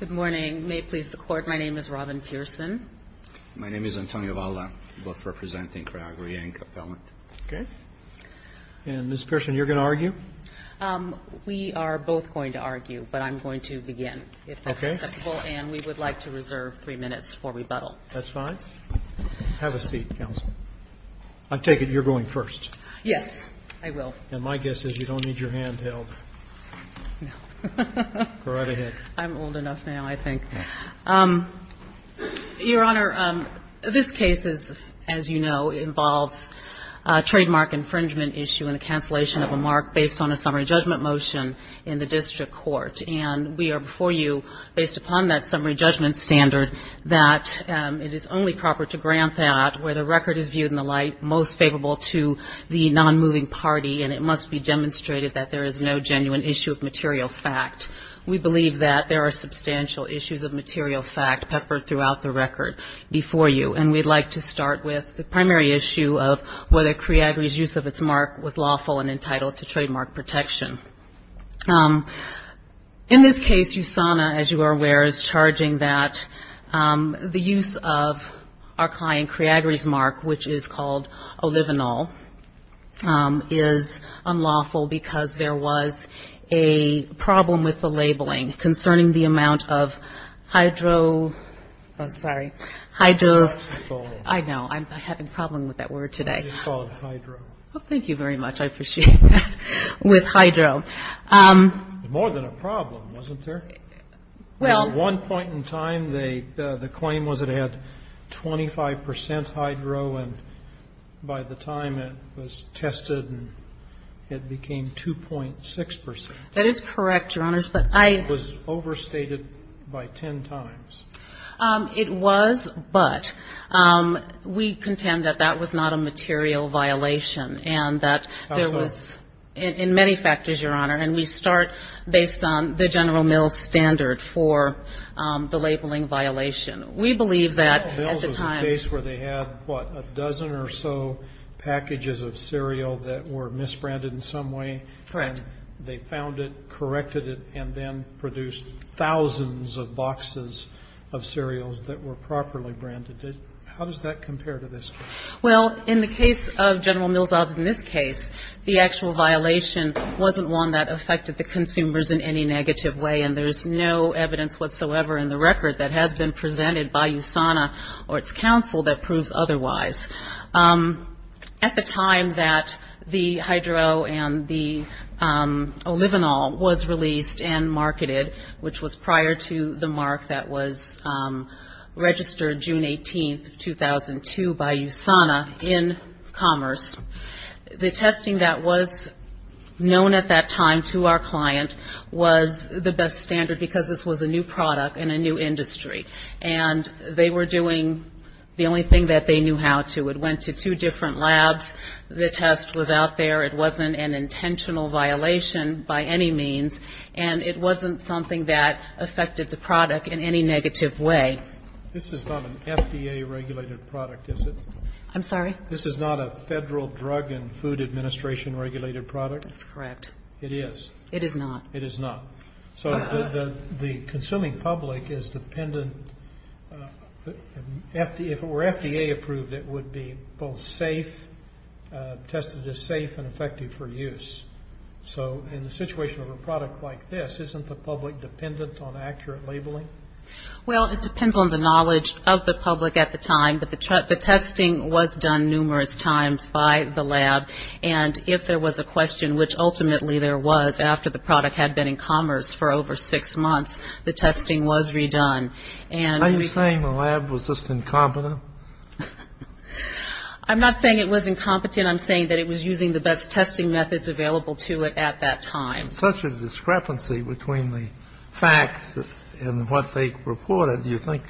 Good morning. May it please the Court, my name is Robyn Pearson. My name is Antonio Valla, both representing Creagri and Capellant. And Ms. Pearson, you're going to argue? We are both going to argue, but I'm going to begin, if that's acceptable. And we would like to reserve three minutes for rebuttal. That's fine. Have a seat, counsel. I take it you're going first? Yes, I will. And my guess is you don't need your hand held. Go right ahead. I'm old enough now, I think. Your Honor, this case, as you know, involves a trademark infringement issue and the cancellation of a mark based on a summary judgment motion in the district court. And we are before you, based upon that summary judgment standard, that it is only proper to grant that where the record is viewed in the light most favorable to the non-moving party, and it must be demonstrated that there is no genuine issue of material fact. We believe that there are substantial issues of material fact peppered throughout the record before you. And we'd like to start with the primary issue of whether Creagri's use of its mark was lawful and entitled to trademark protection. In this case, USANA, as you are aware, is charging that the use of our client Creagri's mark, which is called olivenol, is unlawful because there was a problem with the labeling concerning the amount of hydro, oh, sorry, hydro, I know, I'm having a problem with that word today. I didn't call it hydro. Oh, thank you very much. I appreciate that. With hydro. More than a problem, wasn't there? At one point in time, the claim was it had 25% hydro, and by the time it was tested, it became 2.6%. That is correct, Your Honors. But I. It was overstated by ten times. It was, but we contend that that was not a material violation and that there was, in many factors, Your Honor, and we start based on the General Mills standard for the labeling violation. We believe that at the time. General Mills was a case where they had, what, a dozen or so packages of cereal that were misbranded in some way. Correct. And they found it, corrected it, and then produced thousands of boxes of cereals that were properly branded. How does that compare to this case? Well, in the case of General Mills, as in this case, the actual violation wasn't one that affected the consumers in any negative way, and there's no evidence whatsoever in the record that has been presented by USANA or its counsel that proves otherwise. At the time that the hydro and the olivenol was released and marketed, which was prior to the mark that was registered June 18, 2002, by USANA in Commerce, the testing that was known at that time to our client was the best standard because this was a new product in a new industry. And they were doing the only thing that they knew how to. It went to two different labs. The test was out there. It wasn't an intentional violation by any means. And it wasn't something that affected the product in any negative way. This is not an FDA regulated product, is it? I'm sorry? This is not a federal drug and food administration regulated product? That's correct. It is? It is not. It is not. So the consuming public is dependent. If it were FDA approved, it would be both safe, tested as safe and effective for use. So in the situation of a product like this, isn't the public dependent on accurate labeling? Well, it depends on the knowledge of the public at the time. But the testing was done numerous times by the lab. And if there was a question, which ultimately there was after the product had been in commerce for over six months, the testing was redone. Are you saying the lab was just incompetent? I'm not saying it was incompetent. I'm saying that it was using the best testing methods available to it at that time. Such a discrepancy between the facts and what they reported. Do you think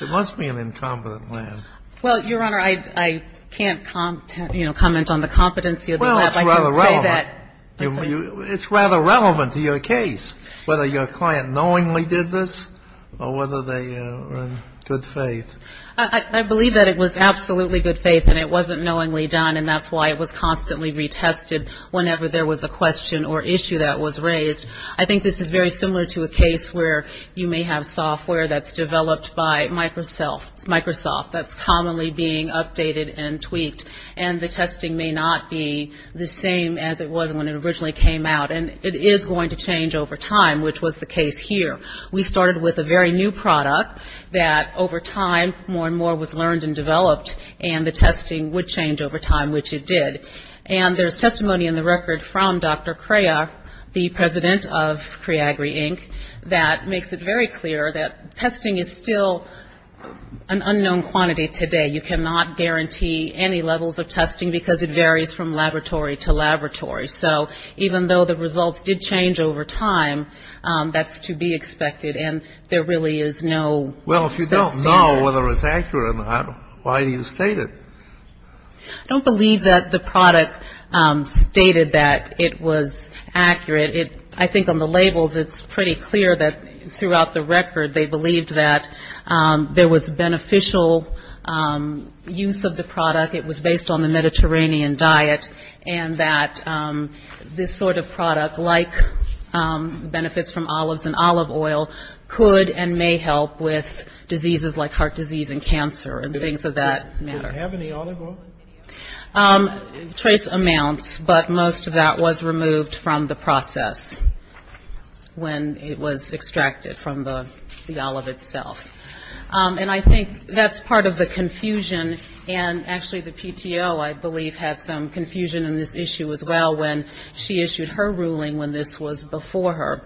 it must be an incompetent lab? Well, Your Honor, I can't comment on the competency of the lab. Well, it's rather relevant. I can say that. It's rather relevant to your case, whether your client knowingly did this or whether they were in good faith. I believe that it was absolutely good faith and it wasn't knowingly done, and that's why it was constantly retested whenever there was a question or issue that was raised. I think this is very similar to a case where you may have software that's developed by Microsoft, that's commonly being updated and tweaked, and the testing may not be the same as it was when it originally came out. And it is going to change over time, which was the case here. We started with a very new product that, over time, more and more was learned and developed, and the testing would change over time, which it did. And there's testimony in the record from Dr. Crayer, the president of Criagri, Inc., that makes it very clear that testing is still an unknown quantity today. You cannot guarantee any levels of testing because it varies from laboratory to laboratory. So even though the results did change over time, that's to be expected, and there really is no set standard. Well, if you don't know whether it's accurate or not, why do you state it? I don't believe that the product stated that it was accurate. I think on the labels it's pretty clear that throughout the record they believed that there was beneficial use of the product. It was based on the Mediterranean diet, and that this sort of product, like benefits from olives and olive oil, could and may help with diseases like heart disease and cancer and things of that matter. Did it have any olive oil? Trace amounts, but most of that was removed from the process when it was extracted from the olive itself. And I think that's part of the confusion, and actually the PTO, I believe, had some confusion in this issue as well, when she issued her ruling when this was before her.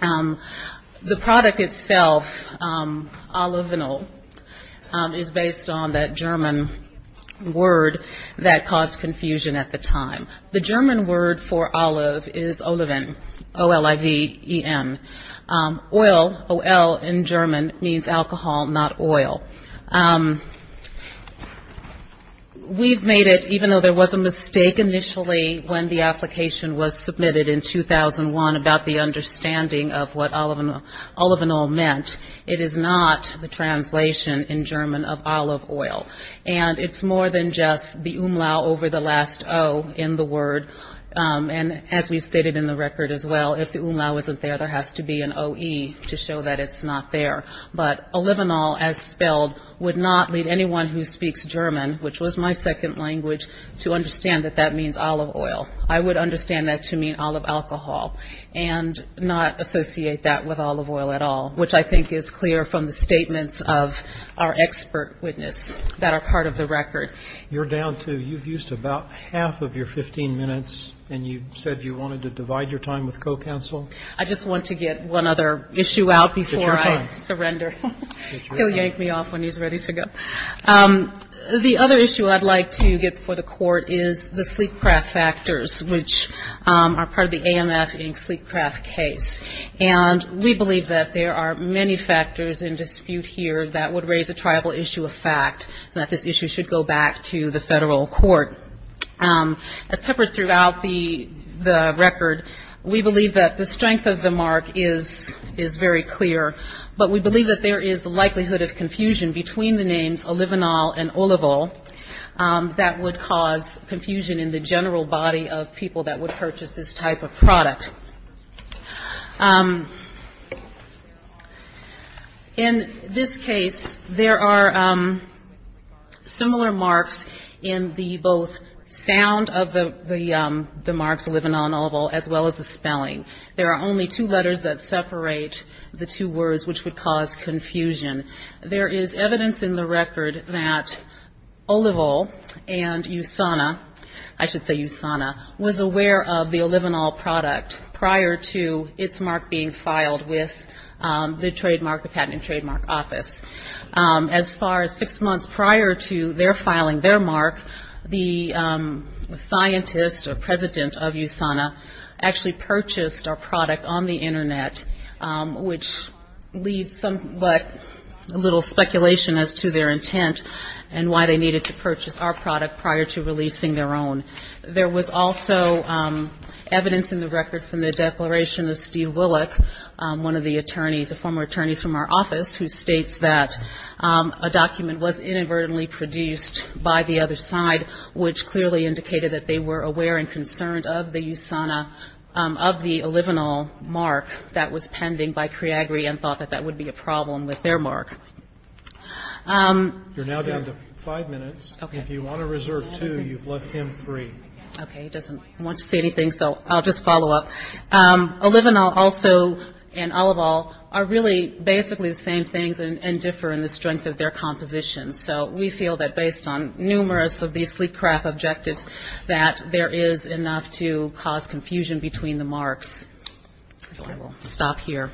The product itself, Olivenol, is based on that German word that caused confusion at the time. The German word for olive is oliven, O-L-I-V-E-N. Oil, O-L in German, means alcohol, not oil. We've made it, even though there was a mistake initially when the application was submitted in 2001 about the understanding of what olivenol meant, it is not the translation in German of olive oil. And it's more than just the umlau over the last O in the word, and as we've stated in the record as well, if the umlau isn't there, there has to be an O-E to show that it's not there. But olivenol, as spelled, would not lead anyone who speaks German, which was my second language, to understand that that means olive oil. I would understand that to mean olive alcohol and not associate that with olive oil at all, which I think is clear from the statements of our expert witness that are part of the record. You've used about half of your 15 minutes, and you said you wanted to divide your time with co-counsel. I just want to get one other issue out before I surrender. He'll yank me off when he's ready to go. The other issue I'd like to get before the court is the sleek craft factors, which are part of the AMF Inc. sleek craft case. And we believe that there are many factors in dispute here that would raise a tribal issue of fact, and that this issue should go back to the federal court. As peppered throughout the record, we believe that the strength of the mark is very clear, but we believe that there is a likelihood of confusion between the names olivenol and olivol that would cause confusion in the general body of people that would purchase this type of product. In this case, there are similar marks in the both sound of the marks olivenol and olivol, as well as the spelling. There are only two letters that separate the two words, which would cause confusion. There is evidence in the record that olivol and usana, I should say usana, was aware of the olivenol product prior to its mark being filed with the trademark, the patent and trademark office. As far as six months prior to their filing their mark, the scientist or president of usana actually purchased our product on the Internet, which leads somewhat little speculation as to their intent and why they needed to purchase our product prior to releasing their own. There was also evidence in the record from the declaration of Steve Willick, one of the attorneys, a former attorney from our office, who states that a document was inadvertently produced by the other side, which clearly indicated that they were aware and concerned of the usana, of the olivenol mark that was pending by Priagri and thought that that would be a problem with their mark. You're now down to five minutes. Okay. If you want to reserve two, you've left him three. Okay. He doesn't want to say anything, so I'll just follow up. Olivenol also and olivol are really basically the same things and differ in the strength of their composition. So we feel that based on numerous of these sleep craft objectives that there is enough to cause confusion between the marks. So I will stop here.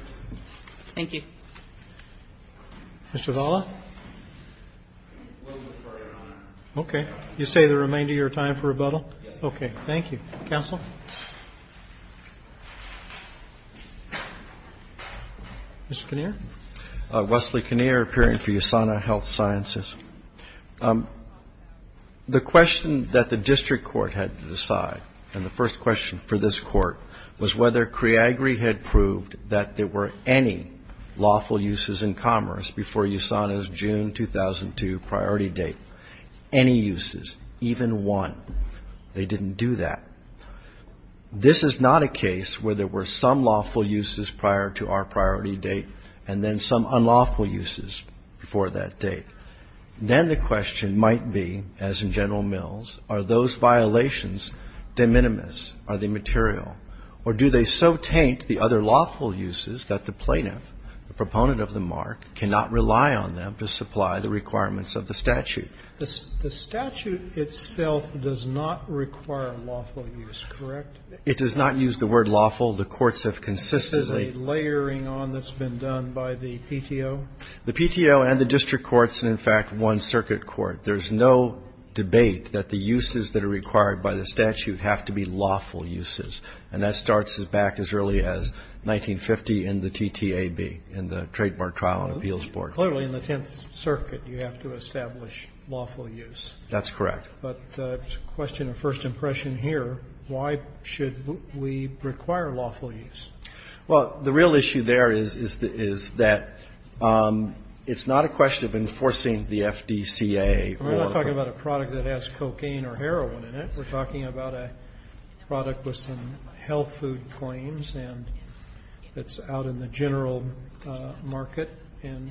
Thank you. Mr. Valla? Okay. You say the remainder of your time for rebuttal? Yes. Thank you. Counsel? Mr. Kinnear? Wesley Kinnear, appearing for Usana Health Sciences. The question that the district court had to decide and the first question for this court was whether Priagri had proved that there were any lawful uses in commerce before Usana's June 2002 priority date. Any uses, even one. They didn't do that. This is not a case where there were some lawful uses prior to our priority date and then some unlawful uses before that date. Then the question might be, as in General Mills, are those violations de minimis? Are they material? Or do they so taint the other lawful uses that the plaintiff, the proponent of the mark, cannot rely on them to supply the requirements of the statute? The statute itself does not require lawful use, correct? It does not use the word lawful. The courts have consistently. This is a layering on that's been done by the PTO? The PTO and the district courts and, in fact, one circuit court. There's no debate that the uses that are required by the statute have to be lawful uses. And that starts back as early as 1950 in the TTAB, in the Trademark Trial and Appeals Board. Clearly, in the Tenth Circuit, you have to establish lawful use. That's correct. But the question of first impression here, why should we require lawful use? Well, the real issue there is that it's not a question of enforcing the FDCA. We're not talking about a product that has cocaine or heroin in it. We're talking about a product with some health food claims and that's out in the general market and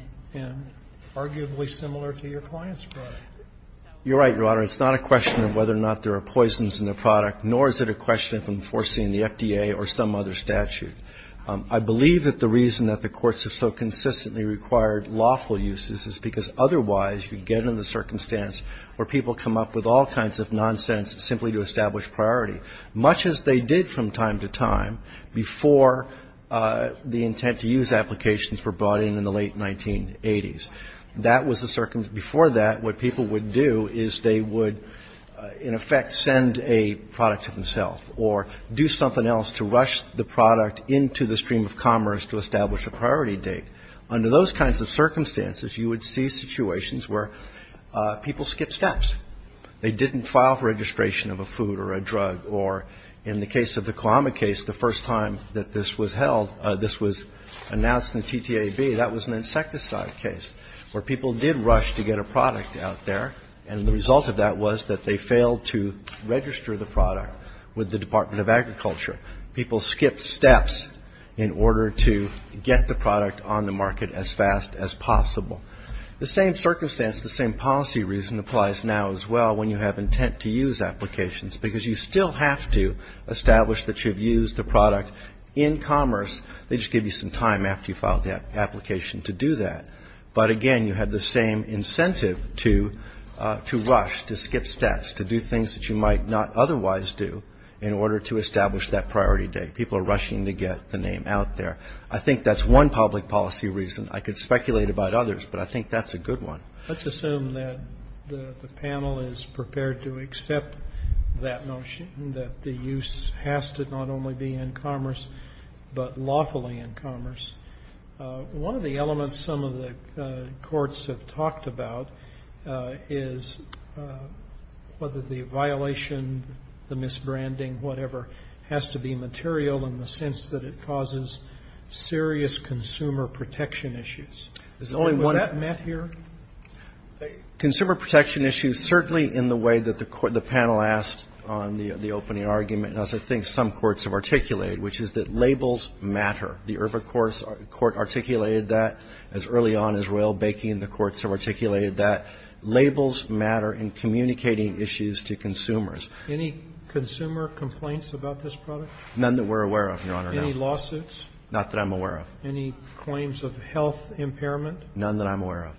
arguably similar to your client's product. You're right, Your Honor. It's not a question of whether or not there are poisons in the product, nor is it a question of enforcing the FDA or some other statute. I believe that the reason that the courts have so consistently required lawful uses is because otherwise you get in the circumstance where people come up with all kinds of nonsense simply to establish priority, much as they did from time to time before the intent-to-use applications were brought in in the late 1980s. That was the circumstance. Before that, what people would do is they would, in effect, send a product to themselves or do something else to rush the product into the stream of commerce to establish a priority date. Under those kinds of circumstances, you would see situations where people skip steps. They didn't file for registration of a food or a drug. Or in the case of the Kwame case, the first time that this was held, this was announced in the TTAB, that was an insecticide case where people did rush to get a product out there, and the result of that was that they failed to register the product with the Department of Agriculture. People skipped steps in order to get the product on the market as fast as possible. The same circumstance, the same policy reason applies now as well when you have intent-to-use applications, because you still have to establish that you've used a product in commerce. They just give you some time after you file the application to do that. But, again, you have the same incentive to rush, to skip steps, to do things that you might not otherwise do in order to establish that priority date. People are rushing to get the name out there. I think that's one public policy reason. I could speculate about others, but I think that's a good one. Let's assume that the panel is prepared to accept that notion, that the use has to not only be in commerce but lawfully in commerce. One of the elements some of the courts have talked about is whether the violation, the misbranding, whatever, has to be material in the sense that it causes serious consumer protection issues. Was that met here? Consumer protection issues, certainly in the way that the panel asked on the opening argument, as I think some courts have articulated, which is that labels matter. The Irving Court articulated that as early on as royal baking. The courts have articulated that labels matter in communicating issues to consumers. Any consumer complaints about this product? None that we're aware of, Your Honor. Any lawsuits? Not that I'm aware of. Any claims of health impairment? None that I'm aware of.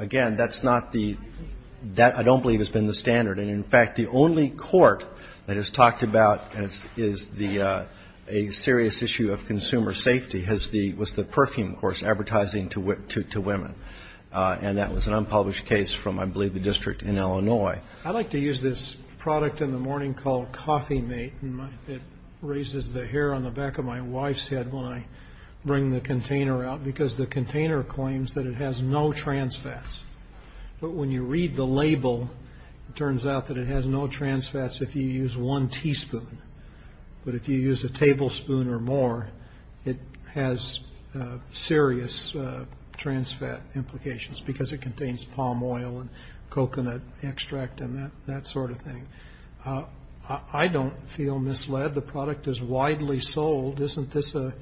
Again, that's not the – that I don't believe has been the standard. And, in fact, the only court that has talked about is the – a serious issue of consumer safety has the – was the Perfume Court's advertising to women. And that was an unpublished case from, I believe, the district in Illinois. I like to use this product in the morning called Coffee Mate. It raises the hair on the back of my wife's head when I bring the container out because the container claims that it has no trans fats. But when you read the label, it turns out that it has no trans fats if you use one teaspoon. But if you use a tablespoon or more, it has serious trans fat implications because it contains palm oil and coconut extract and that sort of thing. I don't feel misled. The product is widely sold. Isn't this a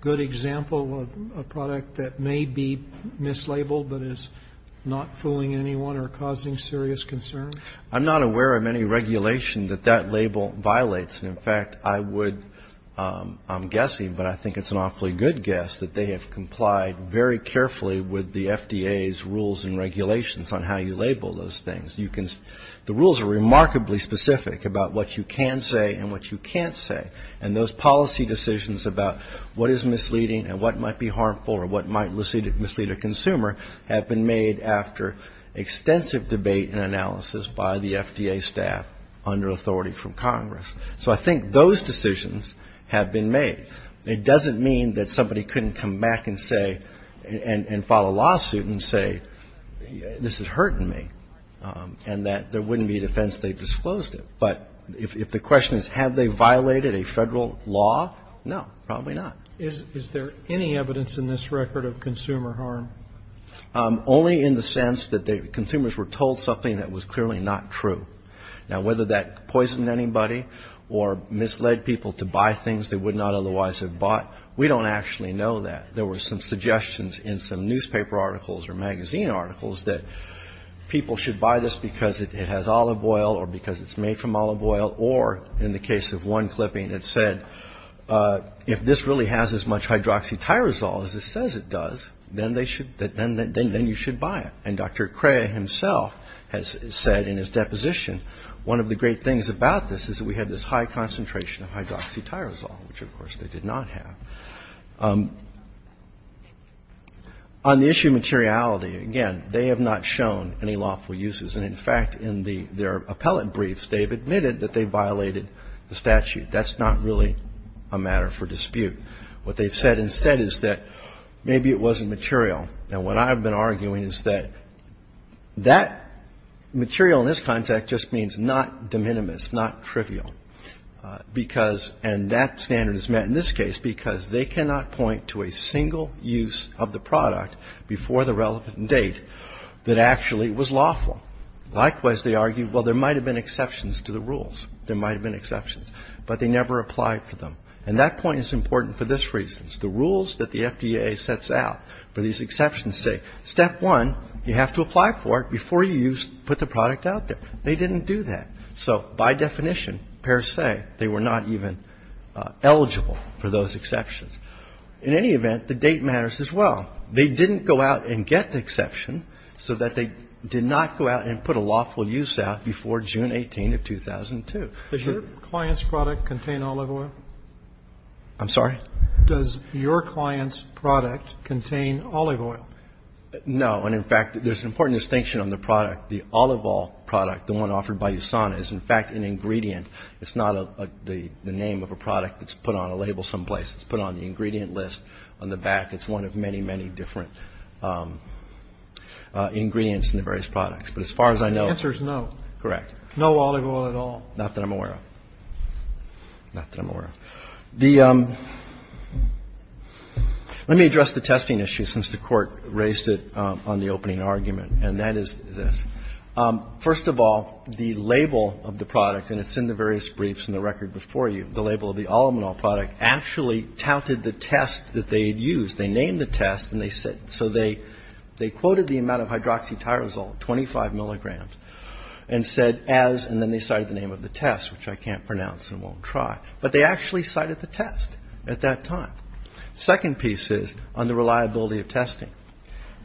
good example of a product that may be mislabeled but is not fooling anyone or causing serious concern? I'm not aware of any regulation that that label violates. In fact, I would – I'm guessing, but I think it's an awfully good guess, that they have complied very carefully with the FDA's rules and regulations on how you label those things. You can – the rules are remarkably specific about what you can say and what you can't say. And those policy decisions about what is misleading and what might be harmful or what might mislead a consumer have been made after extensive debate and analysis by the FDA staff under authority from Congress. So I think those decisions have been made. It doesn't mean that somebody couldn't come back and say – and file a lawsuit and say this is hurting me and that there wouldn't be an offense if they disclosed it. But if the question is have they violated a federal law, no, probably not. Is there any evidence in this record of consumer harm? Only in the sense that the consumers were told something that was clearly not true. Now, whether that poisoned anybody or misled people to buy things they would not otherwise have bought, we don't actually know that. There were some suggestions in some newspaper articles or magazine articles that people should buy this because it has olive oil or because it's made from olive oil or, in the case of one clipping, it said if this really has as much hydroxytyrosol as it says it does, then they should – then you should buy it. And Dr. Crea himself has said in his deposition, one of the great things about this is that we have this high concentration of hydroxytyrosol, which, of course, they did not have. On the issue of materiality, again, they have not shown any lawful uses. And, in fact, in their appellate briefs, they've admitted that they violated the statute. That's not really a matter for dispute. What they've said instead is that maybe it wasn't material. Now, what I've been arguing is that that material in this context just means not de minimis, not trivial, because – and that standard is met in this case because they cannot point to a single use of the product before the relevant date that actually was lawful. Likewise, they argue, well, there might have been exceptions to the rules. There might have been exceptions, but they never applied for them. And that point is important for this reason. The rules that the FDA sets out for these exceptions say, step one, you have to apply for it before you put the product out there. They didn't do that. So by definition, per se, they were not even eligible for those exceptions. In any event, the date matters as well. They didn't go out and get the exception so that they did not go out and put a lawful use out before June 18 of 2002. The question is, does your client's product contain olive oil? I'm sorry? Does your client's product contain olive oil? No. And, in fact, there's an important distinction on the product. The olive oil product, the one offered by USANA, is, in fact, an ingredient. It's not the name of a product that's put on a label someplace. It's put on the ingredient list on the back. It's one of many, many different ingredients in the various products. But as far as I know – The answer is no. Correct. No olive oil at all? Not that I'm aware of. Not that I'm aware of. The – let me address the testing issue, since the Court raised it on the opening argument, and that is this. First of all, the label of the product, and it's in the various briefs and the record before you, the label of the olive oil product actually touted the test that they had used. They named the test, and they said – so they quoted the amount of hydroxytyrosol, 25 milligrams, and said as – and then they cited the name of the test, which I can't pronounce and won't try, but they actually cited the test at that time. The second piece is on the reliability of testing.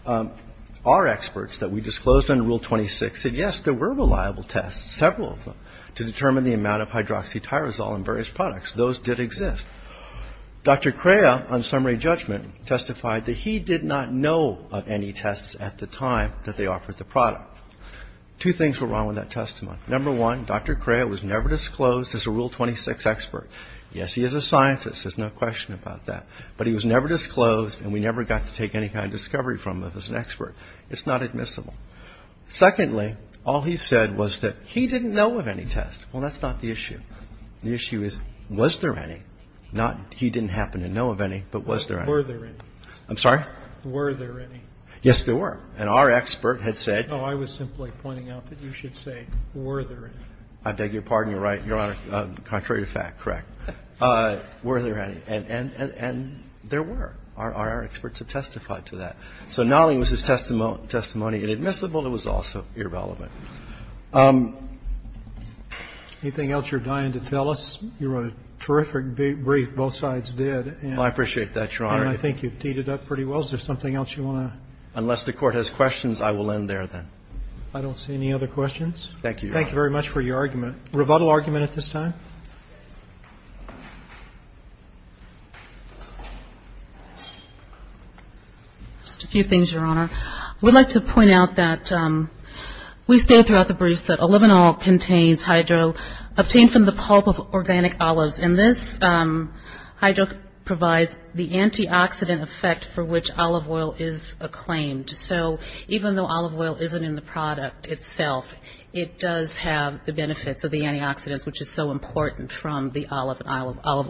Our experts that we disclosed under Rule 26 said, yes, there were reliable tests, several of them, to determine the amount of hydroxytyrosol in various products. Those did exist. Dr. Crea, on summary judgment, testified that he did not know of any tests at the time that they offered the product. Two things were wrong with that testimony. Number one, Dr. Crea was never disclosed as a Rule 26 expert. Yes, he is a scientist. There's no question about that. But he was never disclosed, and we never got to take any kind of discovery from him as an expert. It's not admissible. Secondly, all he said was that he didn't know of any tests. Well, that's not the issue. The issue is, was there any? Not he didn't happen to know of any, but was there any? Were there any? I'm sorry? Were there any? Yes, there were. And our expert had said. No, I was simply pointing out that you should say, were there any? I beg your pardon, Your Honor. Contrary to fact, correct. Were there any? And there were. Our experts have testified to that. So not only was his testimony inadmissible, it was also irrelevant. Anything else you're dying to tell us? You wrote a terrific brief. Both sides did. Well, I appreciate that, Your Honor. And I think you've teed it up pretty well. Is there something else you want to? Unless the Court has questions, I will end there then. I don't see any other questions. Thank you, Your Honor. Thank you very much for your argument. Rebuttal argument at this time? Just a few things, Your Honor. I would like to point out that we stated throughout the briefs that olivenol contains hydro, obtained from the pulp of organic olives. And this hydro provides the antioxidant effect for which olive oil is acclaimed. So even though olive oil isn't in the product itself, it does have the benefits of the antioxidants, which is so important from the olive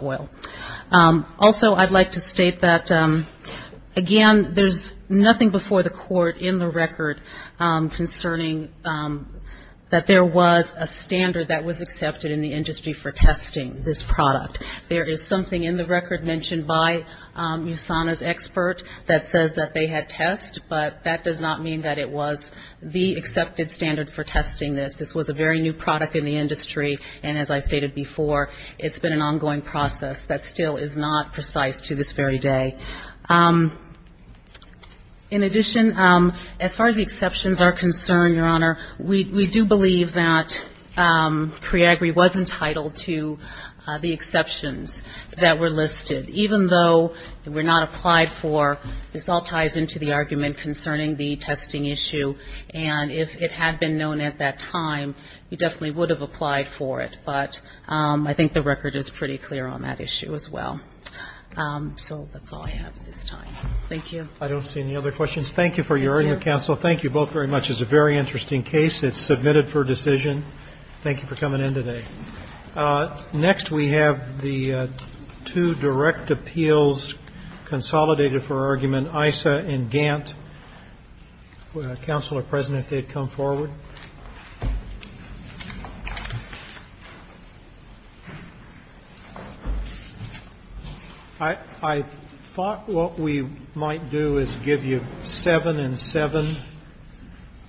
oil. Also, I'd like to state that, again, there's nothing before the Court in the record concerning that there was a There is something in the record mentioned by USANA's expert that says that they had tests, but that does not mean that it was the accepted standard for testing this. This was a very new product in the industry, and as I stated before, it's been an ongoing process that still is not precise to this very day. In addition, as far as the exceptions are concerned, Your Honor, we do believe that PREAGRI was entitled to the exceptions that were listed. Even though they were not applied for, this all ties into the argument concerning the testing issue, and if it had been known at that time, we definitely would have applied for it. But I think the record is pretty clear on that issue as well. So that's all I have at this time. Thank you. I don't see any other questions. Thank you for your earlier counsel. Thank you both very much. This is a very interesting case. It's submitted for decision. Thank you for coming in today. Next we have the two direct appeals consolidated for argument, ISA and Gantt. Counselor, President, if they'd come forward. I thought what we might do is give you seven and seven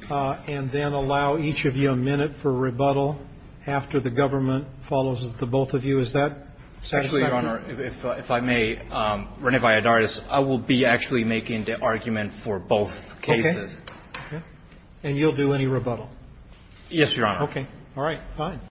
and then allow each of you a minute for rebuttal after the government follows the both of you. Is that satisfactory? Actually, Your Honor, if I may, Rene Valladares, I will be actually making the argument for both cases. Okay. Okay. And you'll do any rebuttal? Yes, Your Honor. Okay. All right.